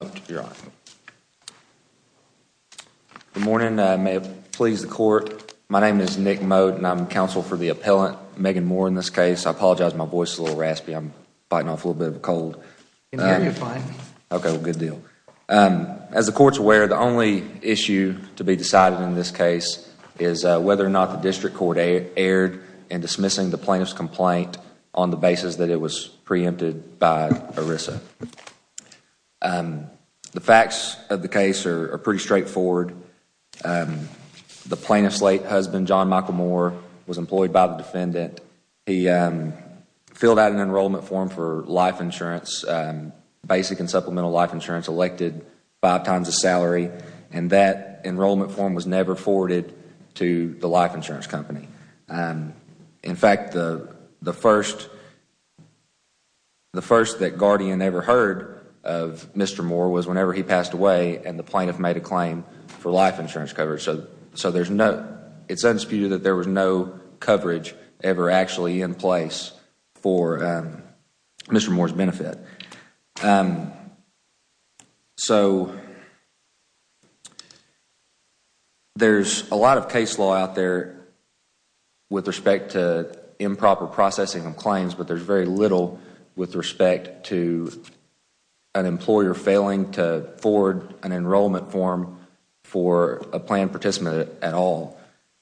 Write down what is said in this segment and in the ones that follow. Good morning. May it please the court. My name is Nick Mode and I'm counsel for the appellant, Megan Moore, in this case. I apologize my voice is a little raspy. I'm biting off a little bit of a cold. As the court's aware, the only issue to be decided in this case is whether or not the district court erred in dismissing the plaintiff's complaint on the basis that it was preempted by ERISA. The facts of the case are pretty straightforward. The plaintiff's late husband, John Michael Moore, was employed by the defendant. He filled out an enrollment form for life insurance, basic and supplemental life insurance, elected five times his salary, and that enrollment form was never forwarded to the life insurance company. In fact, the first that Guardian ever heard of Mr. Moore was whenever he passed away and the plaintiff made a claim for life insurance coverage. So it's undisputed that there was no coverage ever actually in place for Mr. Moore's benefit. There's a lot of case law out there with respect to improper processing of claims, but there's very little with respect to an employer failing to forward an enrollment form for a planned participant at all.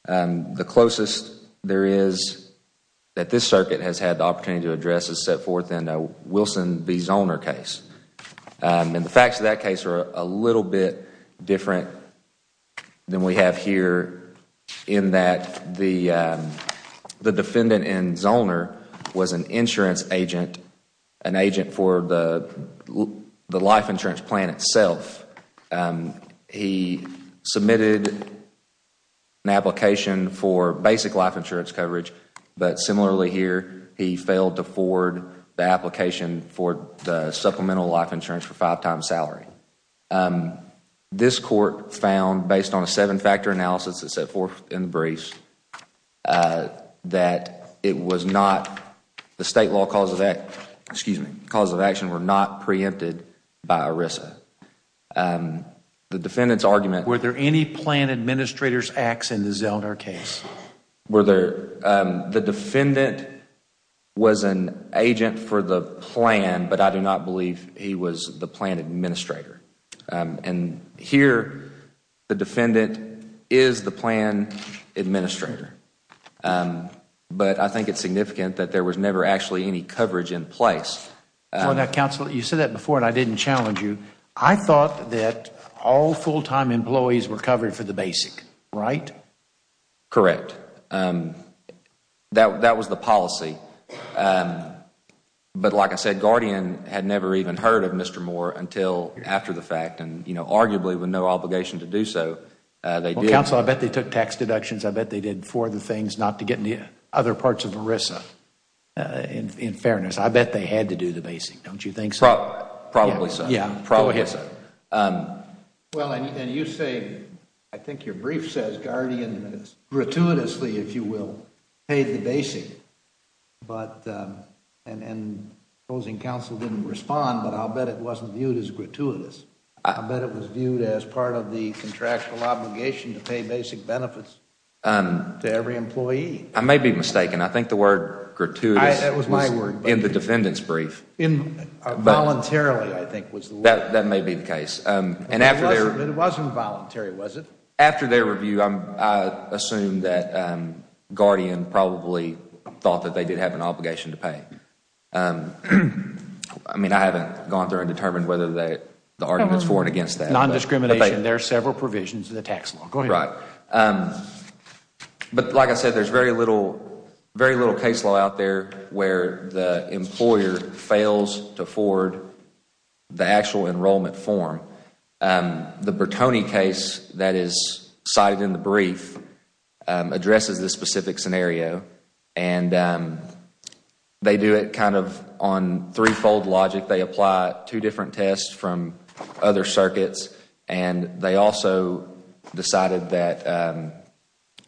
The closest there is that this circuit has had the opportunity to address a set forth in a Wilson v. Zoner case. The facts of that case are a little bit different than we have here in that the defendant in Zoner was an insurance agent, an agent for the life insurance plan itself. He submitted an application for the supplemental life insurance for a five-time salary. This court found based on a seven-factor analysis that set forth in the briefs that the state law cause of action were not preempted by ERISA. Were there any planned administrator's acts in the Zoner case? The defendant was an agent for the plan, but I do not believe he was the planned administrator. Here the defendant is the planned administrator, but I think it's significant that there was never actually any coverage in place. Counsel, you said that before and I didn't challenge you. I thought that all full-time employees were covered for the basic, right? Correct. That was the policy. But like I said, Guardian had never even heard of Mr. Moore until after the fact and arguably with no obligation to do so. Counsel, I bet they took tax deductions. I bet they did for the things not to get into other parts of ERISA. In fairness, I bet they had to do the basic. Don't you think so? Probably so. Well, and you say, I think your brief says Guardian gratuitously, if you will, paid the basic, and opposing counsel didn't respond, but I'll bet it wasn't viewed as gratuitous. I'll bet it was viewed as part of the contractual obligation to pay basic benefits to every employee. I may be mistaken. I think the word gratuitous was in the defendant's brief. Voluntarily, I think, was the word. That may be the case. It wasn't voluntary, was it? After their review, I assume that Guardian probably thought that they did have an obligation to pay. I mean, I haven't gone through and determined whether the argument is for and against that. Non-discrimination, there are several provisions in the tax law. Go ahead. Right. But like I said, there's very little case law out there where the employer fails to forward the actual enrollment form. The Bertone case that is cited in the brief addresses this specific scenario, and they do it kind of on three-fold logic. They apply two different tests from other circuits, and they also decided that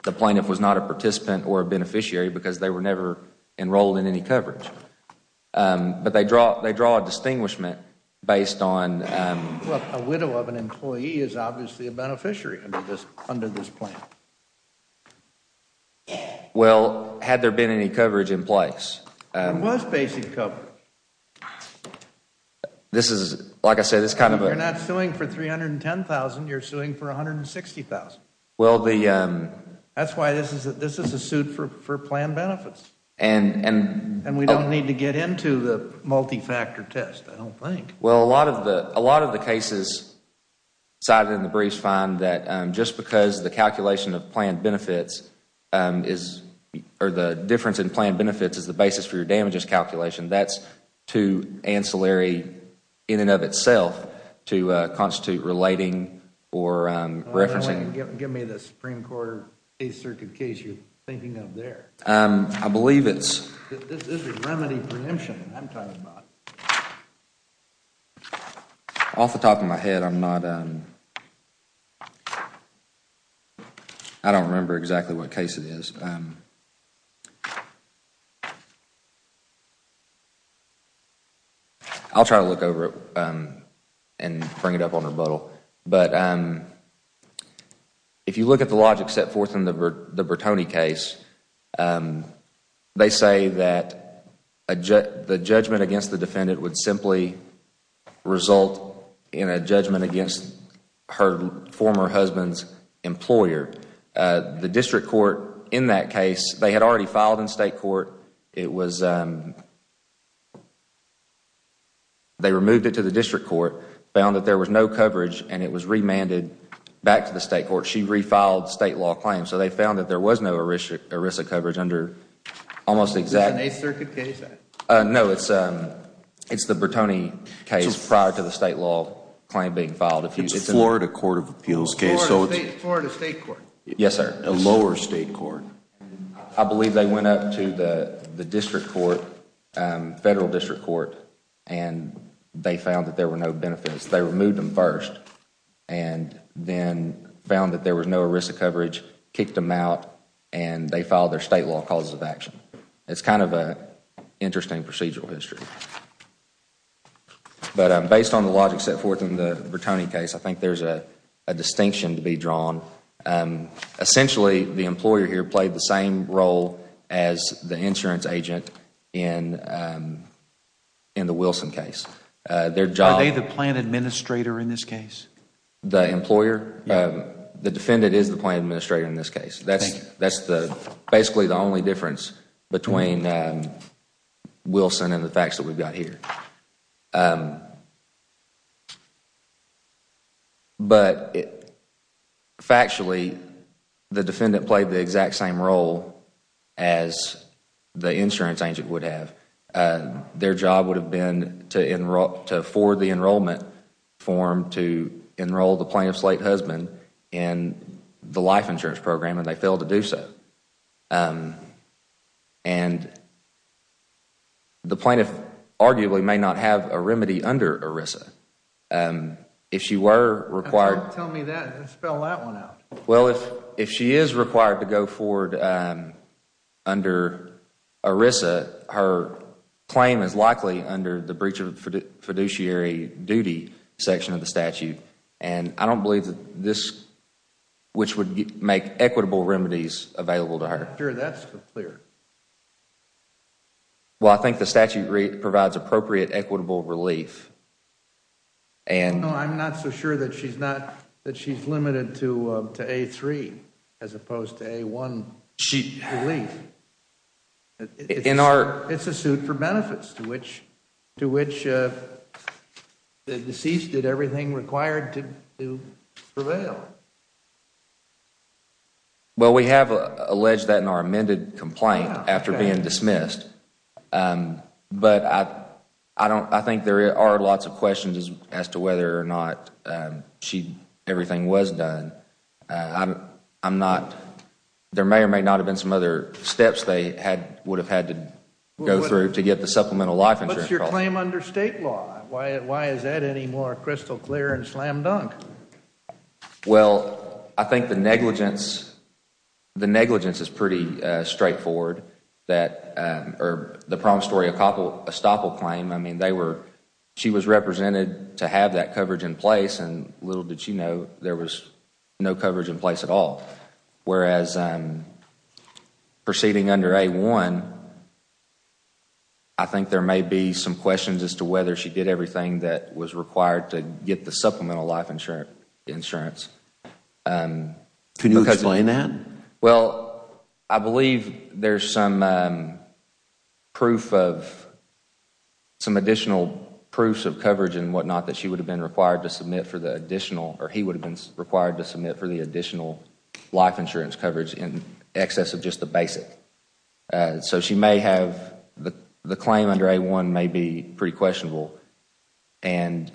the plaintiff was not a participant or a beneficiary because they were never enrolled in any coverage. But they draw a distinguishment based on Well, a widow of an employee is obviously a beneficiary under this plan. Well, had there been any coverage in place There was basic coverage. So, this is, like I said, this is kind of a You're not suing for $310,000, you're suing for $160,000. Well, the That's why this is a suit for planned benefits. And we don't need to get into the multi-factor test, I don't think. Well, a lot of the cases cited in the briefs find that just because the calculation of planned benefits is, or the difference in planned benefits is the basis for your damages calculation, that's too ancillary in and of itself to constitute relating or referencing Give me the Supreme Court Eighth Circuit case you're thinking of there. I believe it's This is remedy preemption I'm talking about. Off the top of my head, I'm not I don't remember exactly what case it is. I'll try to look over it and bring it up on rebuttal. But if you look at the logic set forth in the Bertone case, they say that the judgment against the defendant would simply result in a judgment against her former husband's employer. The district court in that case, they had already filed in state court. It was, they removed it to the district court, found that there was no coverage, and it was remanded back to the state court. She refiled state law claims. So they found that there was no ERISA coverage under almost exact Who's the Eighth Circuit case at? No, it's the Bertone case prior to the state law claim being filed. It's a Florida Court of Appeals case. Florida State Court. Yes, sir. A lower state court. I believe they went up to the district court, federal district court, and they found that there were no benefits. They removed them first and then found that there was no ERISA coverage, kicked them out, and they filed their state law causes of action. It's kind of an interesting procedural history. But based on the logic set forth in the Bertone case, I think there's a distinction to be drawn. Essentially, the employer here played the same role as the insurance agent in the Wilson case. Are they the plan administrator in this case? The employer? Yes. The defendant is the plan administrator in this case. Thank you. That's basically the only difference between Wilson and the facts that we've got here. But factually, the defendant played the exact same role as the insurance agent would have. Their job would have been to forward the enrollment form to enroll the plaintiff's late husband in the life insurance program, and they failed to do so. The plaintiff arguably may not have a remedy under ERISA. If she were required to go forward under ERISA, her claim is likely under the breach of fiduciary duty section of the statute, and I don't believe this would make equitable remedies available to her. I'm not sure that's clear. Well, I think the statute provides appropriate, equitable relief. No, I'm not so sure that she's limited to A3 as opposed to A1 relief. It's a suit for benefits to which the deceased did everything required to prevail. Well, we have alleged that in our amended complaint after being dismissed. But I think there are lots of questions as to whether or not everything was done. There may or may not have been some other steps they would have had to go through to get the supplemental life insurance. What's your claim under State law? Why is that any more crystal clear and slam dunk? Well, I think the negligence is pretty straightforward. The promissory estoppel claim, she was represented to have that coverage in place, and little did she know, there was no coverage in place at all. Whereas proceeding under A1, I think there may be some questions as to whether she did everything that was required to get the supplemental life insurance. Can you explain that? Well, I believe there's some additional proofs of coverage and whatnot that she would have been required to submit for the additional, or he would have been required to submit for the additional life insurance coverage in excess of just the basic. So she may have, the claim under A1 may be pretty questionable, and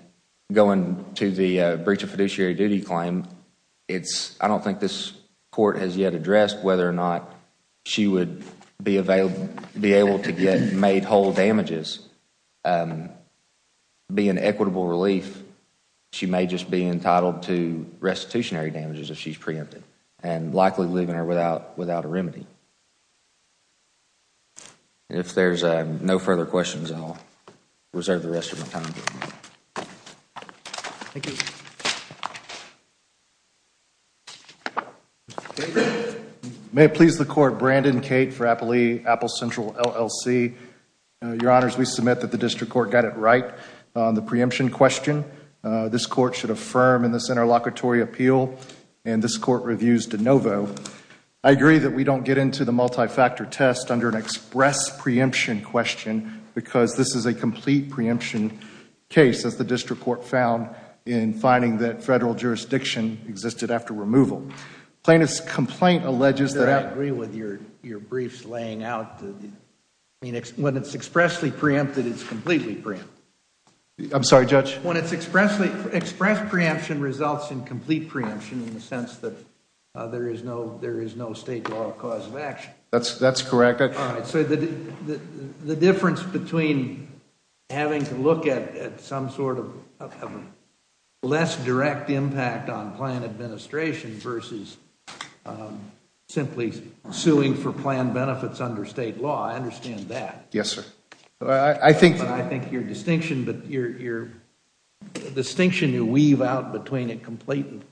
going to the breach of fiduciary duty claim, I don't think this court has yet addressed whether or not she would be able to get made whole damages, be in equitable relief. She may just be entitled to restitutionary damages if she's preempted, and likely leaving her without a remedy. If there's no further questions, I'll reserve the rest of my time. Thank you. May it please the Court, Brandon Cate for Apple Central LLC. Your Honors, we submit that the District Court got it right on the preemption question. This Court should affirm in this interlocutory appeal, and this Court reviews de novo. I agree that we don't get into the multi-factor test under an express preemption question because this is a complete preemption case, as the District Court found in finding that Federal jurisdiction existed after removal. I agree with your briefs laying out, when it's expressly preempted, it's completely preempted. I'm sorry, Judge? When it's expressly, express preemption results in complete preemption in the sense that there is no State law cause of action. That's correct. All right. So the difference between having to look at some sort of less direct impact on plan administration versus simply suing for plan benefits under State law, I understand that. Yes, sir. I think your distinction, but your distinction you weave out between a complete and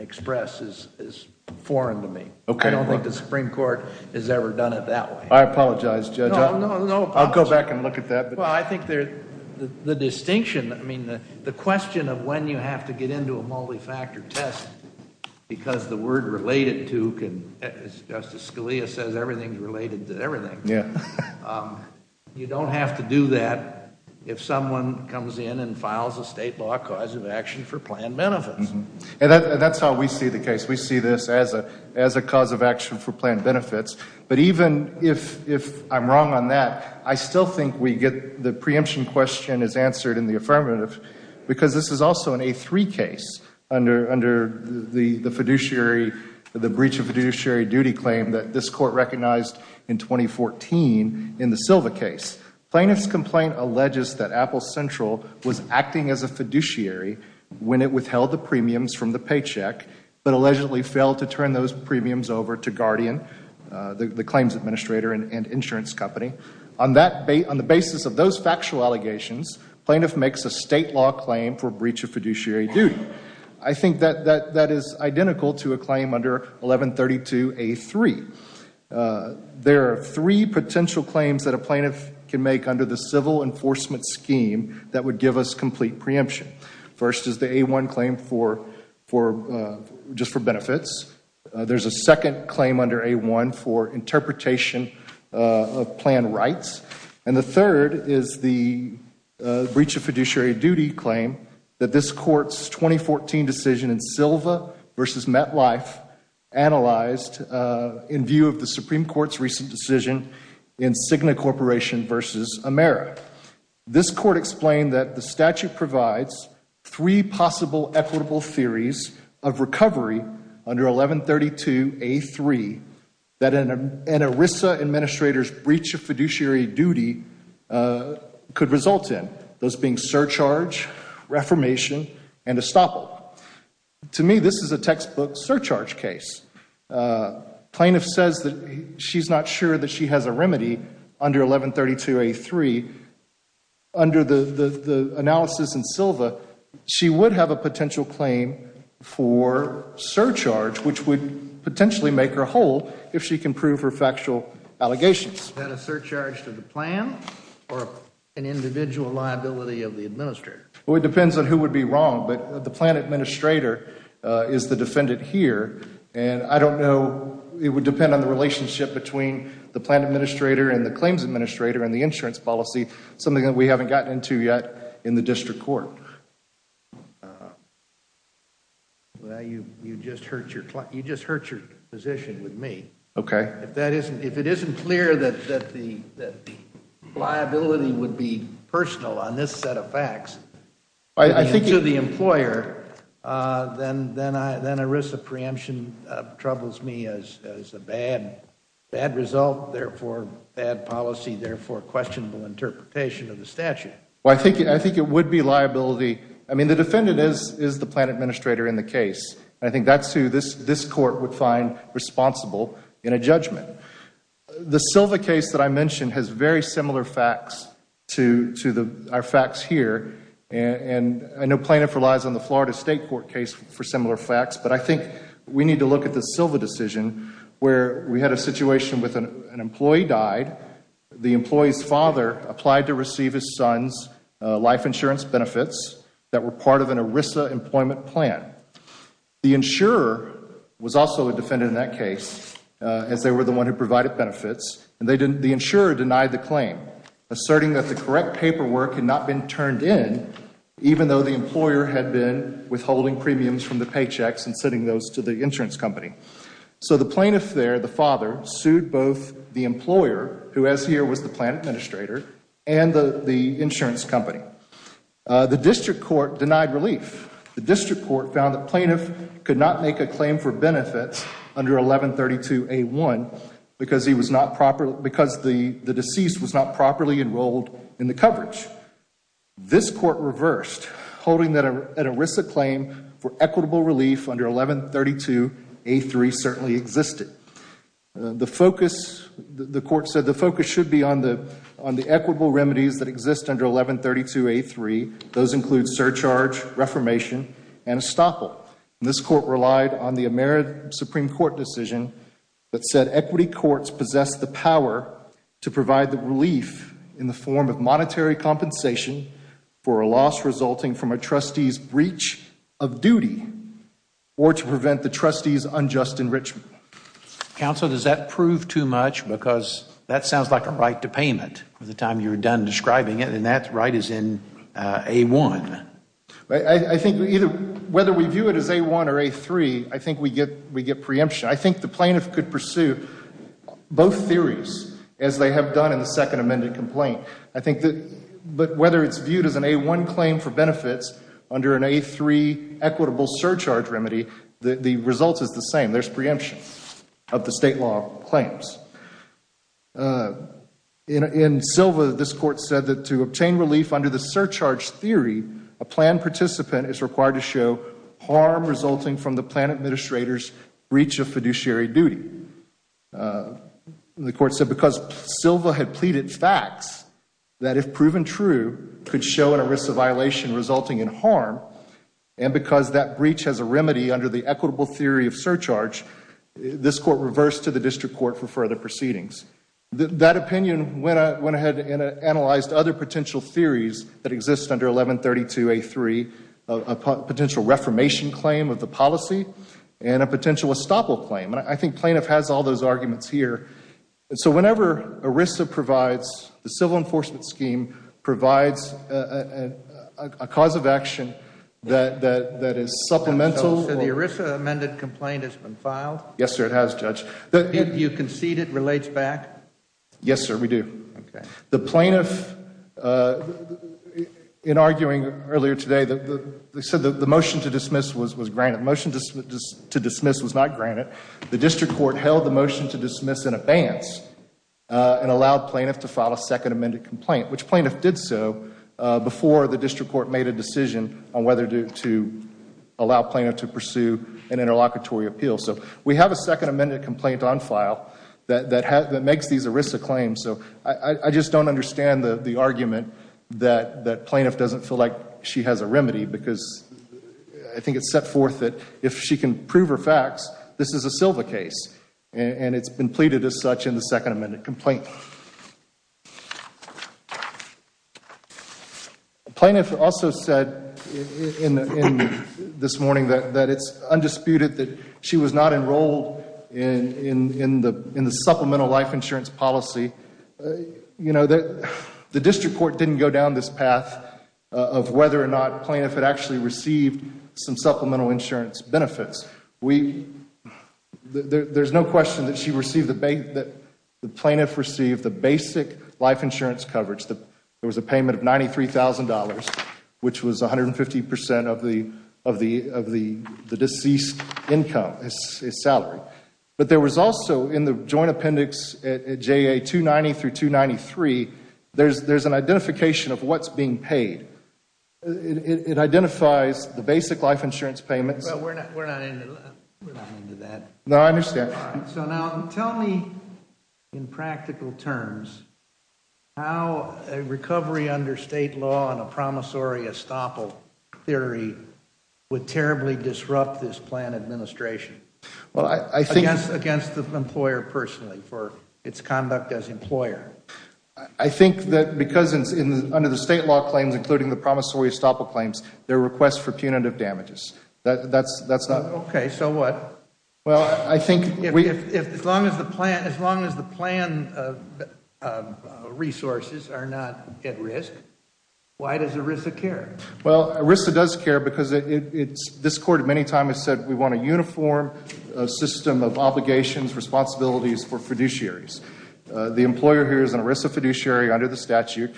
express is foreign to me. Okay. I don't think the Supreme Court has ever done it that way. I apologize, Judge. No, no. I'll go back and look at that. Well, I think the distinction, I mean, the question of when you have to get into a multi-factor test because the word related to can, as Justice Scalia says, everything's related to everything. You don't have to do that if someone comes in and files a State law cause of action for plan benefits. That's how we see the case. We see this as a cause of action for plan benefits. But even if I'm wrong on that, I still think we get the preemption question is answered in the affirmative because this is also an A3 case under the breach of fiduciary duty claim that this Court recognized in 2014 in the Silva case. Plaintiff's complaint alleges that Apple Central was acting as a fiduciary when it withheld the premiums from the paycheck but allegedly failed to turn those premiums over to Guardian, the claims administrator and insurance company. On the basis of those factual allegations, plaintiff makes a State law claim for breach of fiduciary duty. I think that is identical to a claim under 1132A3. There are three potential claims that a plaintiff can make under the civil enforcement scheme that would give us complete preemption. First is the A1 claim just for benefits. There's a second claim under A1 for interpretation of plan rights. And the third is the breach of fiduciary duty claim that this Court's 2014 decision in Silva v. MetLife analyzed in view of the Supreme Court's recent decision in Cigna Corporation v. Amera. This Court explained that the statute provides three possible equitable theories of recovery under 1132A3 that an ERISA administrator's breach of fiduciary duty could result in, those being surcharge, reformation, and estoppel. To me, this is a textbook surcharge case. Plaintiff says that she's not sure that she has a remedy under 1132A3. Under the analysis in Silva, she would have a potential claim for surcharge, which would potentially make her whole if she can prove her factual allegations. Is that a surcharge to the plan or an individual liability of the administrator? Well, it depends on who would be wrong, but the plan administrator is the defendant here. And I don't know, it would depend on the relationship between the plan administrator and the claims administrator and the insurance policy, something that we haven't gotten into yet in the district court. Well, you just hurt your position with me. Okay. If it isn't clear that the liability would be personal on this set of facts to the employer, then ERISA preemption troubles me as a bad result, therefore bad policy, therefore questionable interpretation of the statute. Well, I think it would be liability. I mean, the defendant is the plan administrator in the case. I think that's who this court would find responsible in a judgment. The Silva case that I mentioned has very similar facts to our facts here. And I know plaintiff relies on the Florida State Court case for similar facts, but I think we need to look at the Silva decision where we had a situation with an employee died, the employee's father applied to receive his son's life insurance benefits that were part of an ERISA employment plan. The insurer was also a defendant in that case, as they were the one who provided benefits, and the insurer denied the claim, asserting that the correct paperwork had not been turned in, even though the employer had been withholding premiums from the paychecks and sending those to the insurance company. So the plaintiff there, the father, sued both the employer, who as here was the plan administrator, and the insurance company. The district court denied relief. The district court found the plaintiff could not make a claim for benefits under 1132A1 because the deceased was not properly enrolled in the coverage. This court reversed, holding that an ERISA claim for equitable relief under 1132A3 certainly existed. The focus, the court said the focus should be on the equitable remedies that exist under 1132A3. Those include surcharge, reformation, and estoppel. This court relied on the Ameri Supreme Court decision that said equity courts possess the power to provide the relief in the form of monetary compensation for a loss resulting from a trustee's breach of duty or to prevent the trustee's unjust enrichment. Counsel, does that prove too much? Because that sounds like a right to payment at the time you were done describing it, and that right is in A1. I think either, whether we view it as A1 or A3, I think we get preemption. I think the plaintiff could pursue both theories as they have done in the second amended complaint. I think that, but whether it's viewed as an A1 claim for benefits under an A3 equitable surcharge remedy, the result is the same. There's preemption of the state law claims. In Silva, this court said that to obtain relief under the surcharge theory, a plan participant is required to show harm resulting from the plan administrator's breach of fiduciary duty. The court said because Silva had pleaded facts that if proven true could show a risk of violation resulting in harm, and because that breach has a remedy under the equitable theory of surcharge, this court reversed to the district court for further proceedings. That opinion went ahead and analyzed other potential theories that exist under 1132A3, a potential reformation claim of the policy, and a potential estoppel claim. And I think plaintiff has all those arguments here. And so whenever ERISA provides, the civil enforcement scheme provides a cause of action that is supplemental. So the ERISA amended complaint has been filed? Yes, sir, it has, Judge. Did you concede it relates back? Yes, sir, we do. The plaintiff, in arguing earlier today, they said that the motion to dismiss was granted. The motion to dismiss was not granted. The district court held the motion to dismiss in abeyance and allowed plaintiff to file a second amended complaint, which plaintiff did so before the district court made a decision on whether to allow plaintiff to pursue an interlocutory appeal. So we have a second amended complaint on file that makes these ERISA claims. So I just don't understand the argument that plaintiff doesn't feel like she has a remedy, because I think it's set forth that if she can prove her facts, this is a Silva case. And it's been pleaded as such in the second amended complaint. The plaintiff also said this morning that it's undisputed that she was not enrolled in the supplemental life insurance policy. You know, the district court didn't go down this path of whether or not plaintiff had actually received some supplemental insurance benefits. There's no question that the plaintiff received the basic life insurance coverage. There was a payment of $93,000, which was 150% of the deceased's income, his salary. But there was also in the joint appendix at JA 290 through 293, there's an identification of what's being paid. It identifies the basic life insurance payments. Well, we're not into that. No, I understand. So now tell me in practical terms how a recovery under state law and a promissory estoppel theory would terribly disrupt this plan administration. Well, I think Against the employer personally for its conduct as employer. I think that because under the state law claims, including the promissory estoppel claims, there are requests for punitive damages. Okay, so what? Well, I think As long as the plan resources are not at risk, why does ERISA care? Well, ERISA does care because this court many times has said we want a uniform system of obligations, responsibilities for fiduciaries. The employer here is an ERISA fiduciary under the statute,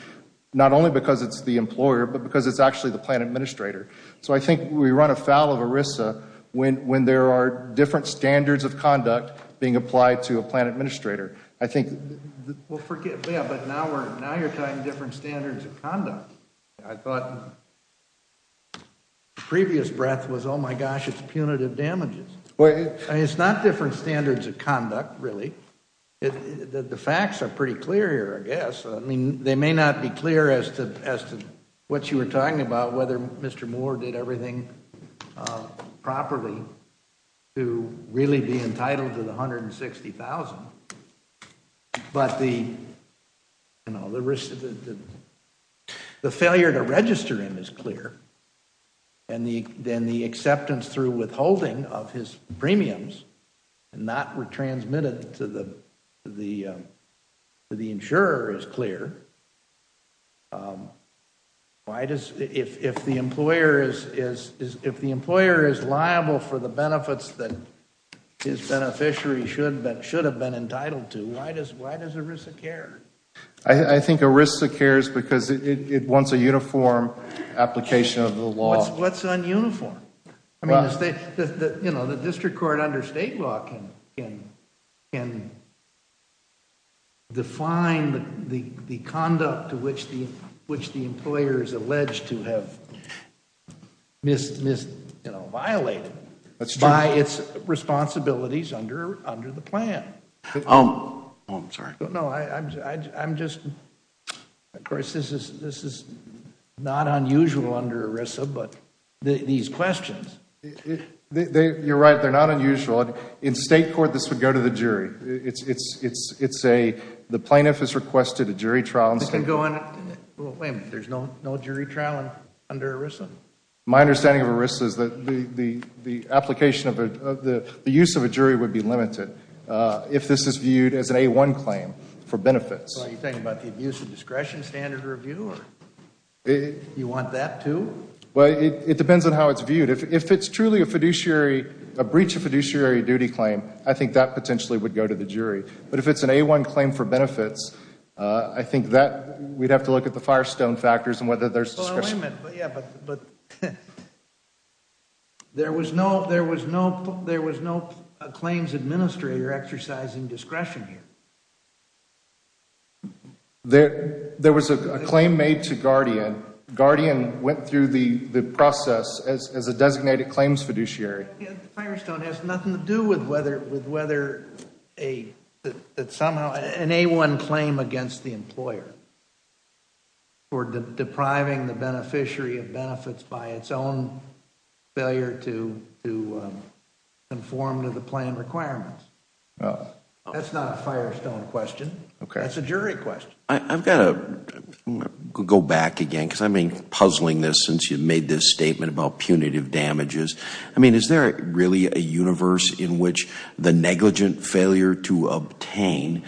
not only because it's the employer, but because it's actually the plan administrator. So I think we run afoul of ERISA when there are different standards of conduct being applied to a plan administrator. I think Well, forget that. But now you're talking different standards of conduct. I thought the previous breath was, oh, my gosh, it's punitive damages. It's not different standards of conduct, really. The facts are pretty clear here, I guess. I mean, they may not be clear as to what you were talking about, whether Mr. Moore did everything properly to really be entitled to the $160,000. But the failure to register him is clear. And then the acceptance through withholding of his premiums not transmitted to the insurer is clear. If the employer is liable for the benefits that his beneficiary should have been entitled to, why does ERISA care? I think ERISA cares because it wants a uniform application of the law. What's un-uniform? The district court under state law can define the conduct to which the employer is alleged to have violated by its responsibilities under the plan. Oh, I'm sorry. No, I'm just, of course, this is not unusual under ERISA, but these questions. You're right. They're not unusual. In state court, this would go to the jury. It's a, the plaintiff has requested a jury trial. Wait a minute. There's no jury trial under ERISA? My understanding of ERISA is that the application of the, the use of a jury would be limited if this is viewed as an A-1 claim for benefits. Are you talking about the abuse of discretion standard review? Do you want that, too? Well, it depends on how it's viewed. If it's truly a fiduciary, a breach of fiduciary duty claim, I think that potentially would go to the jury. But if it's an A-1 claim for benefits, I think that we'd have to look at the Firestone factors and whether there's discretion. Well, wait a minute. Yeah, but there was no, there was no, there was no claims administrator exercising discretion here. There was a claim made to Guardian. Guardian went through the process as a designated claims fiduciary. The Firestone has nothing to do with whether, with whether a, that somehow an A-1 claim against the employer for depriving the beneficiary of benefits by its own failure to, to conform to the plan requirements. That's not a Firestone question. Okay. That's a jury question. I've got to go back again because I've been puzzling this since you made this statement about punitive damages. I mean, is there really a universe in which the negligent failure to obtain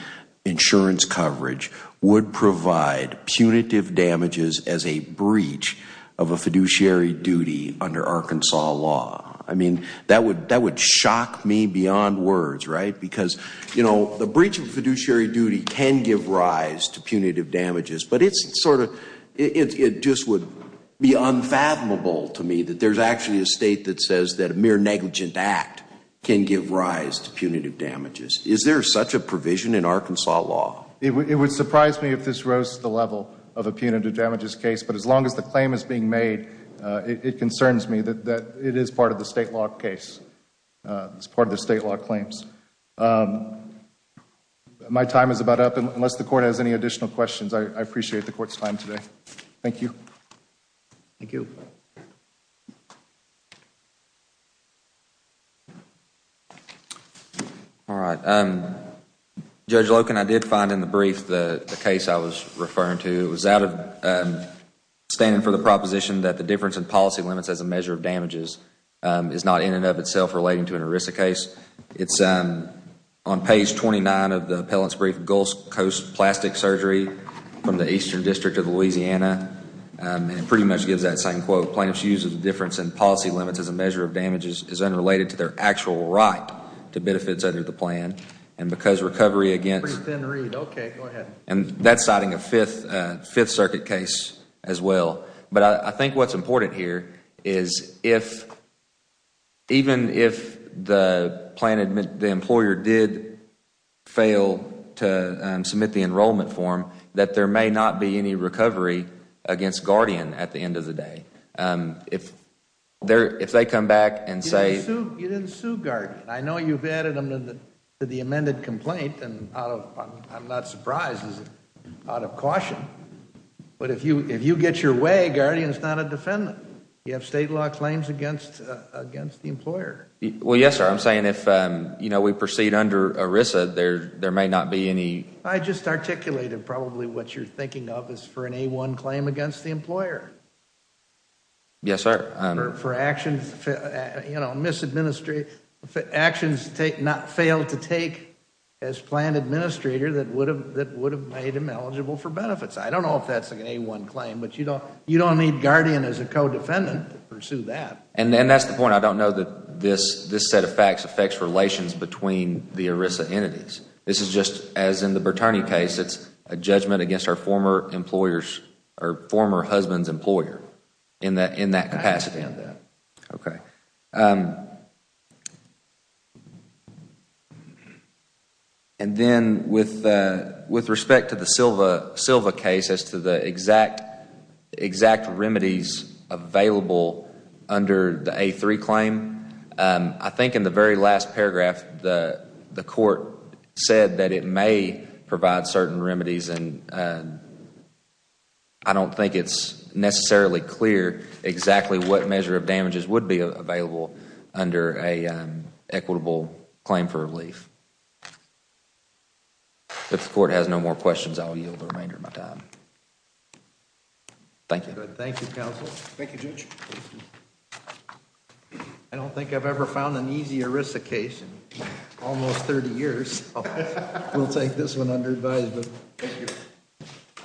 insurance coverage would provide punitive damages as a breach of a fiduciary duty under Arkansas law? I mean, that would, that would shock me beyond words, right? Because, you know, the breach of a fiduciary duty can give rise to punitive damages, but it's sort of, it just would be unfathomable to me that there's actually a State that says that a mere negligent act can give rise to punitive damages. Is there such a provision in Arkansas law? It would surprise me if this rose to the level of a punitive damages case, but as long as the claim is being made, it concerns me that it is part of the State law case. It's part of the State law claims. My time is about up. Unless the Court has any additional questions, I appreciate the Court's time today. Thank you. Thank you. All right. Judge Loken, I did find in the brief the case I was referring to. It was out of standing for the proposition that the difference in policy limits as a measure of damages is not in and of itself relating to an ERISA case. It's on page 29 of the appellant's brief, Gulf Coast Plastic Surgery from the Eastern District of Louisiana, and it pretty much gives that same quote. difference in policy limits as a measure of damages is unrelated to their actual right to benefits under the plan. And because recovery against Pretty thin read. Okay, go ahead. And that's citing a Fifth Circuit case as well. But I think what's important here is even if the employer did fail to submit the enrollment form, that there may not be any recovery against Guardian at the end of the day. If they come back and say You didn't sue Guardian. I know you've added them to the amended complaint, and I'm not surprised. It's out of caution. But if you get your way, Guardian's not a defendant. You have state law claims against the employer. Well, yes, sir. I'm saying if we proceed under ERISA, there may not be any I just articulated probably what you're thinking of is for an A-1 claim against the employer. Yes, sir. For actions not failed to take as planned administrator that would have made him eligible for benefits. I don't know if that's an A-1 claim, but you don't need Guardian as a co-defendant to pursue that. And that's the point. I don't know that this set of facts affects relations between the ERISA entities. This is just as in the Bertarney case. It's a judgment against our former husband's employer in that capacity. Okay. And then with respect to the Silva case as to the exact remedies available under the A-3 claim, I think in the very last paragraph the court said that it may provide certain remedies. I don't think it's necessarily clear exactly what measure of damages would be available under an equitable claim for relief. If the court has no more questions, I will yield the remainder of my time. Thank you. Thank you, counsel. Thank you, Judge. I don't think I've ever found an easy ERISA case in almost 30 years. We'll take this one under advisement. Thank you.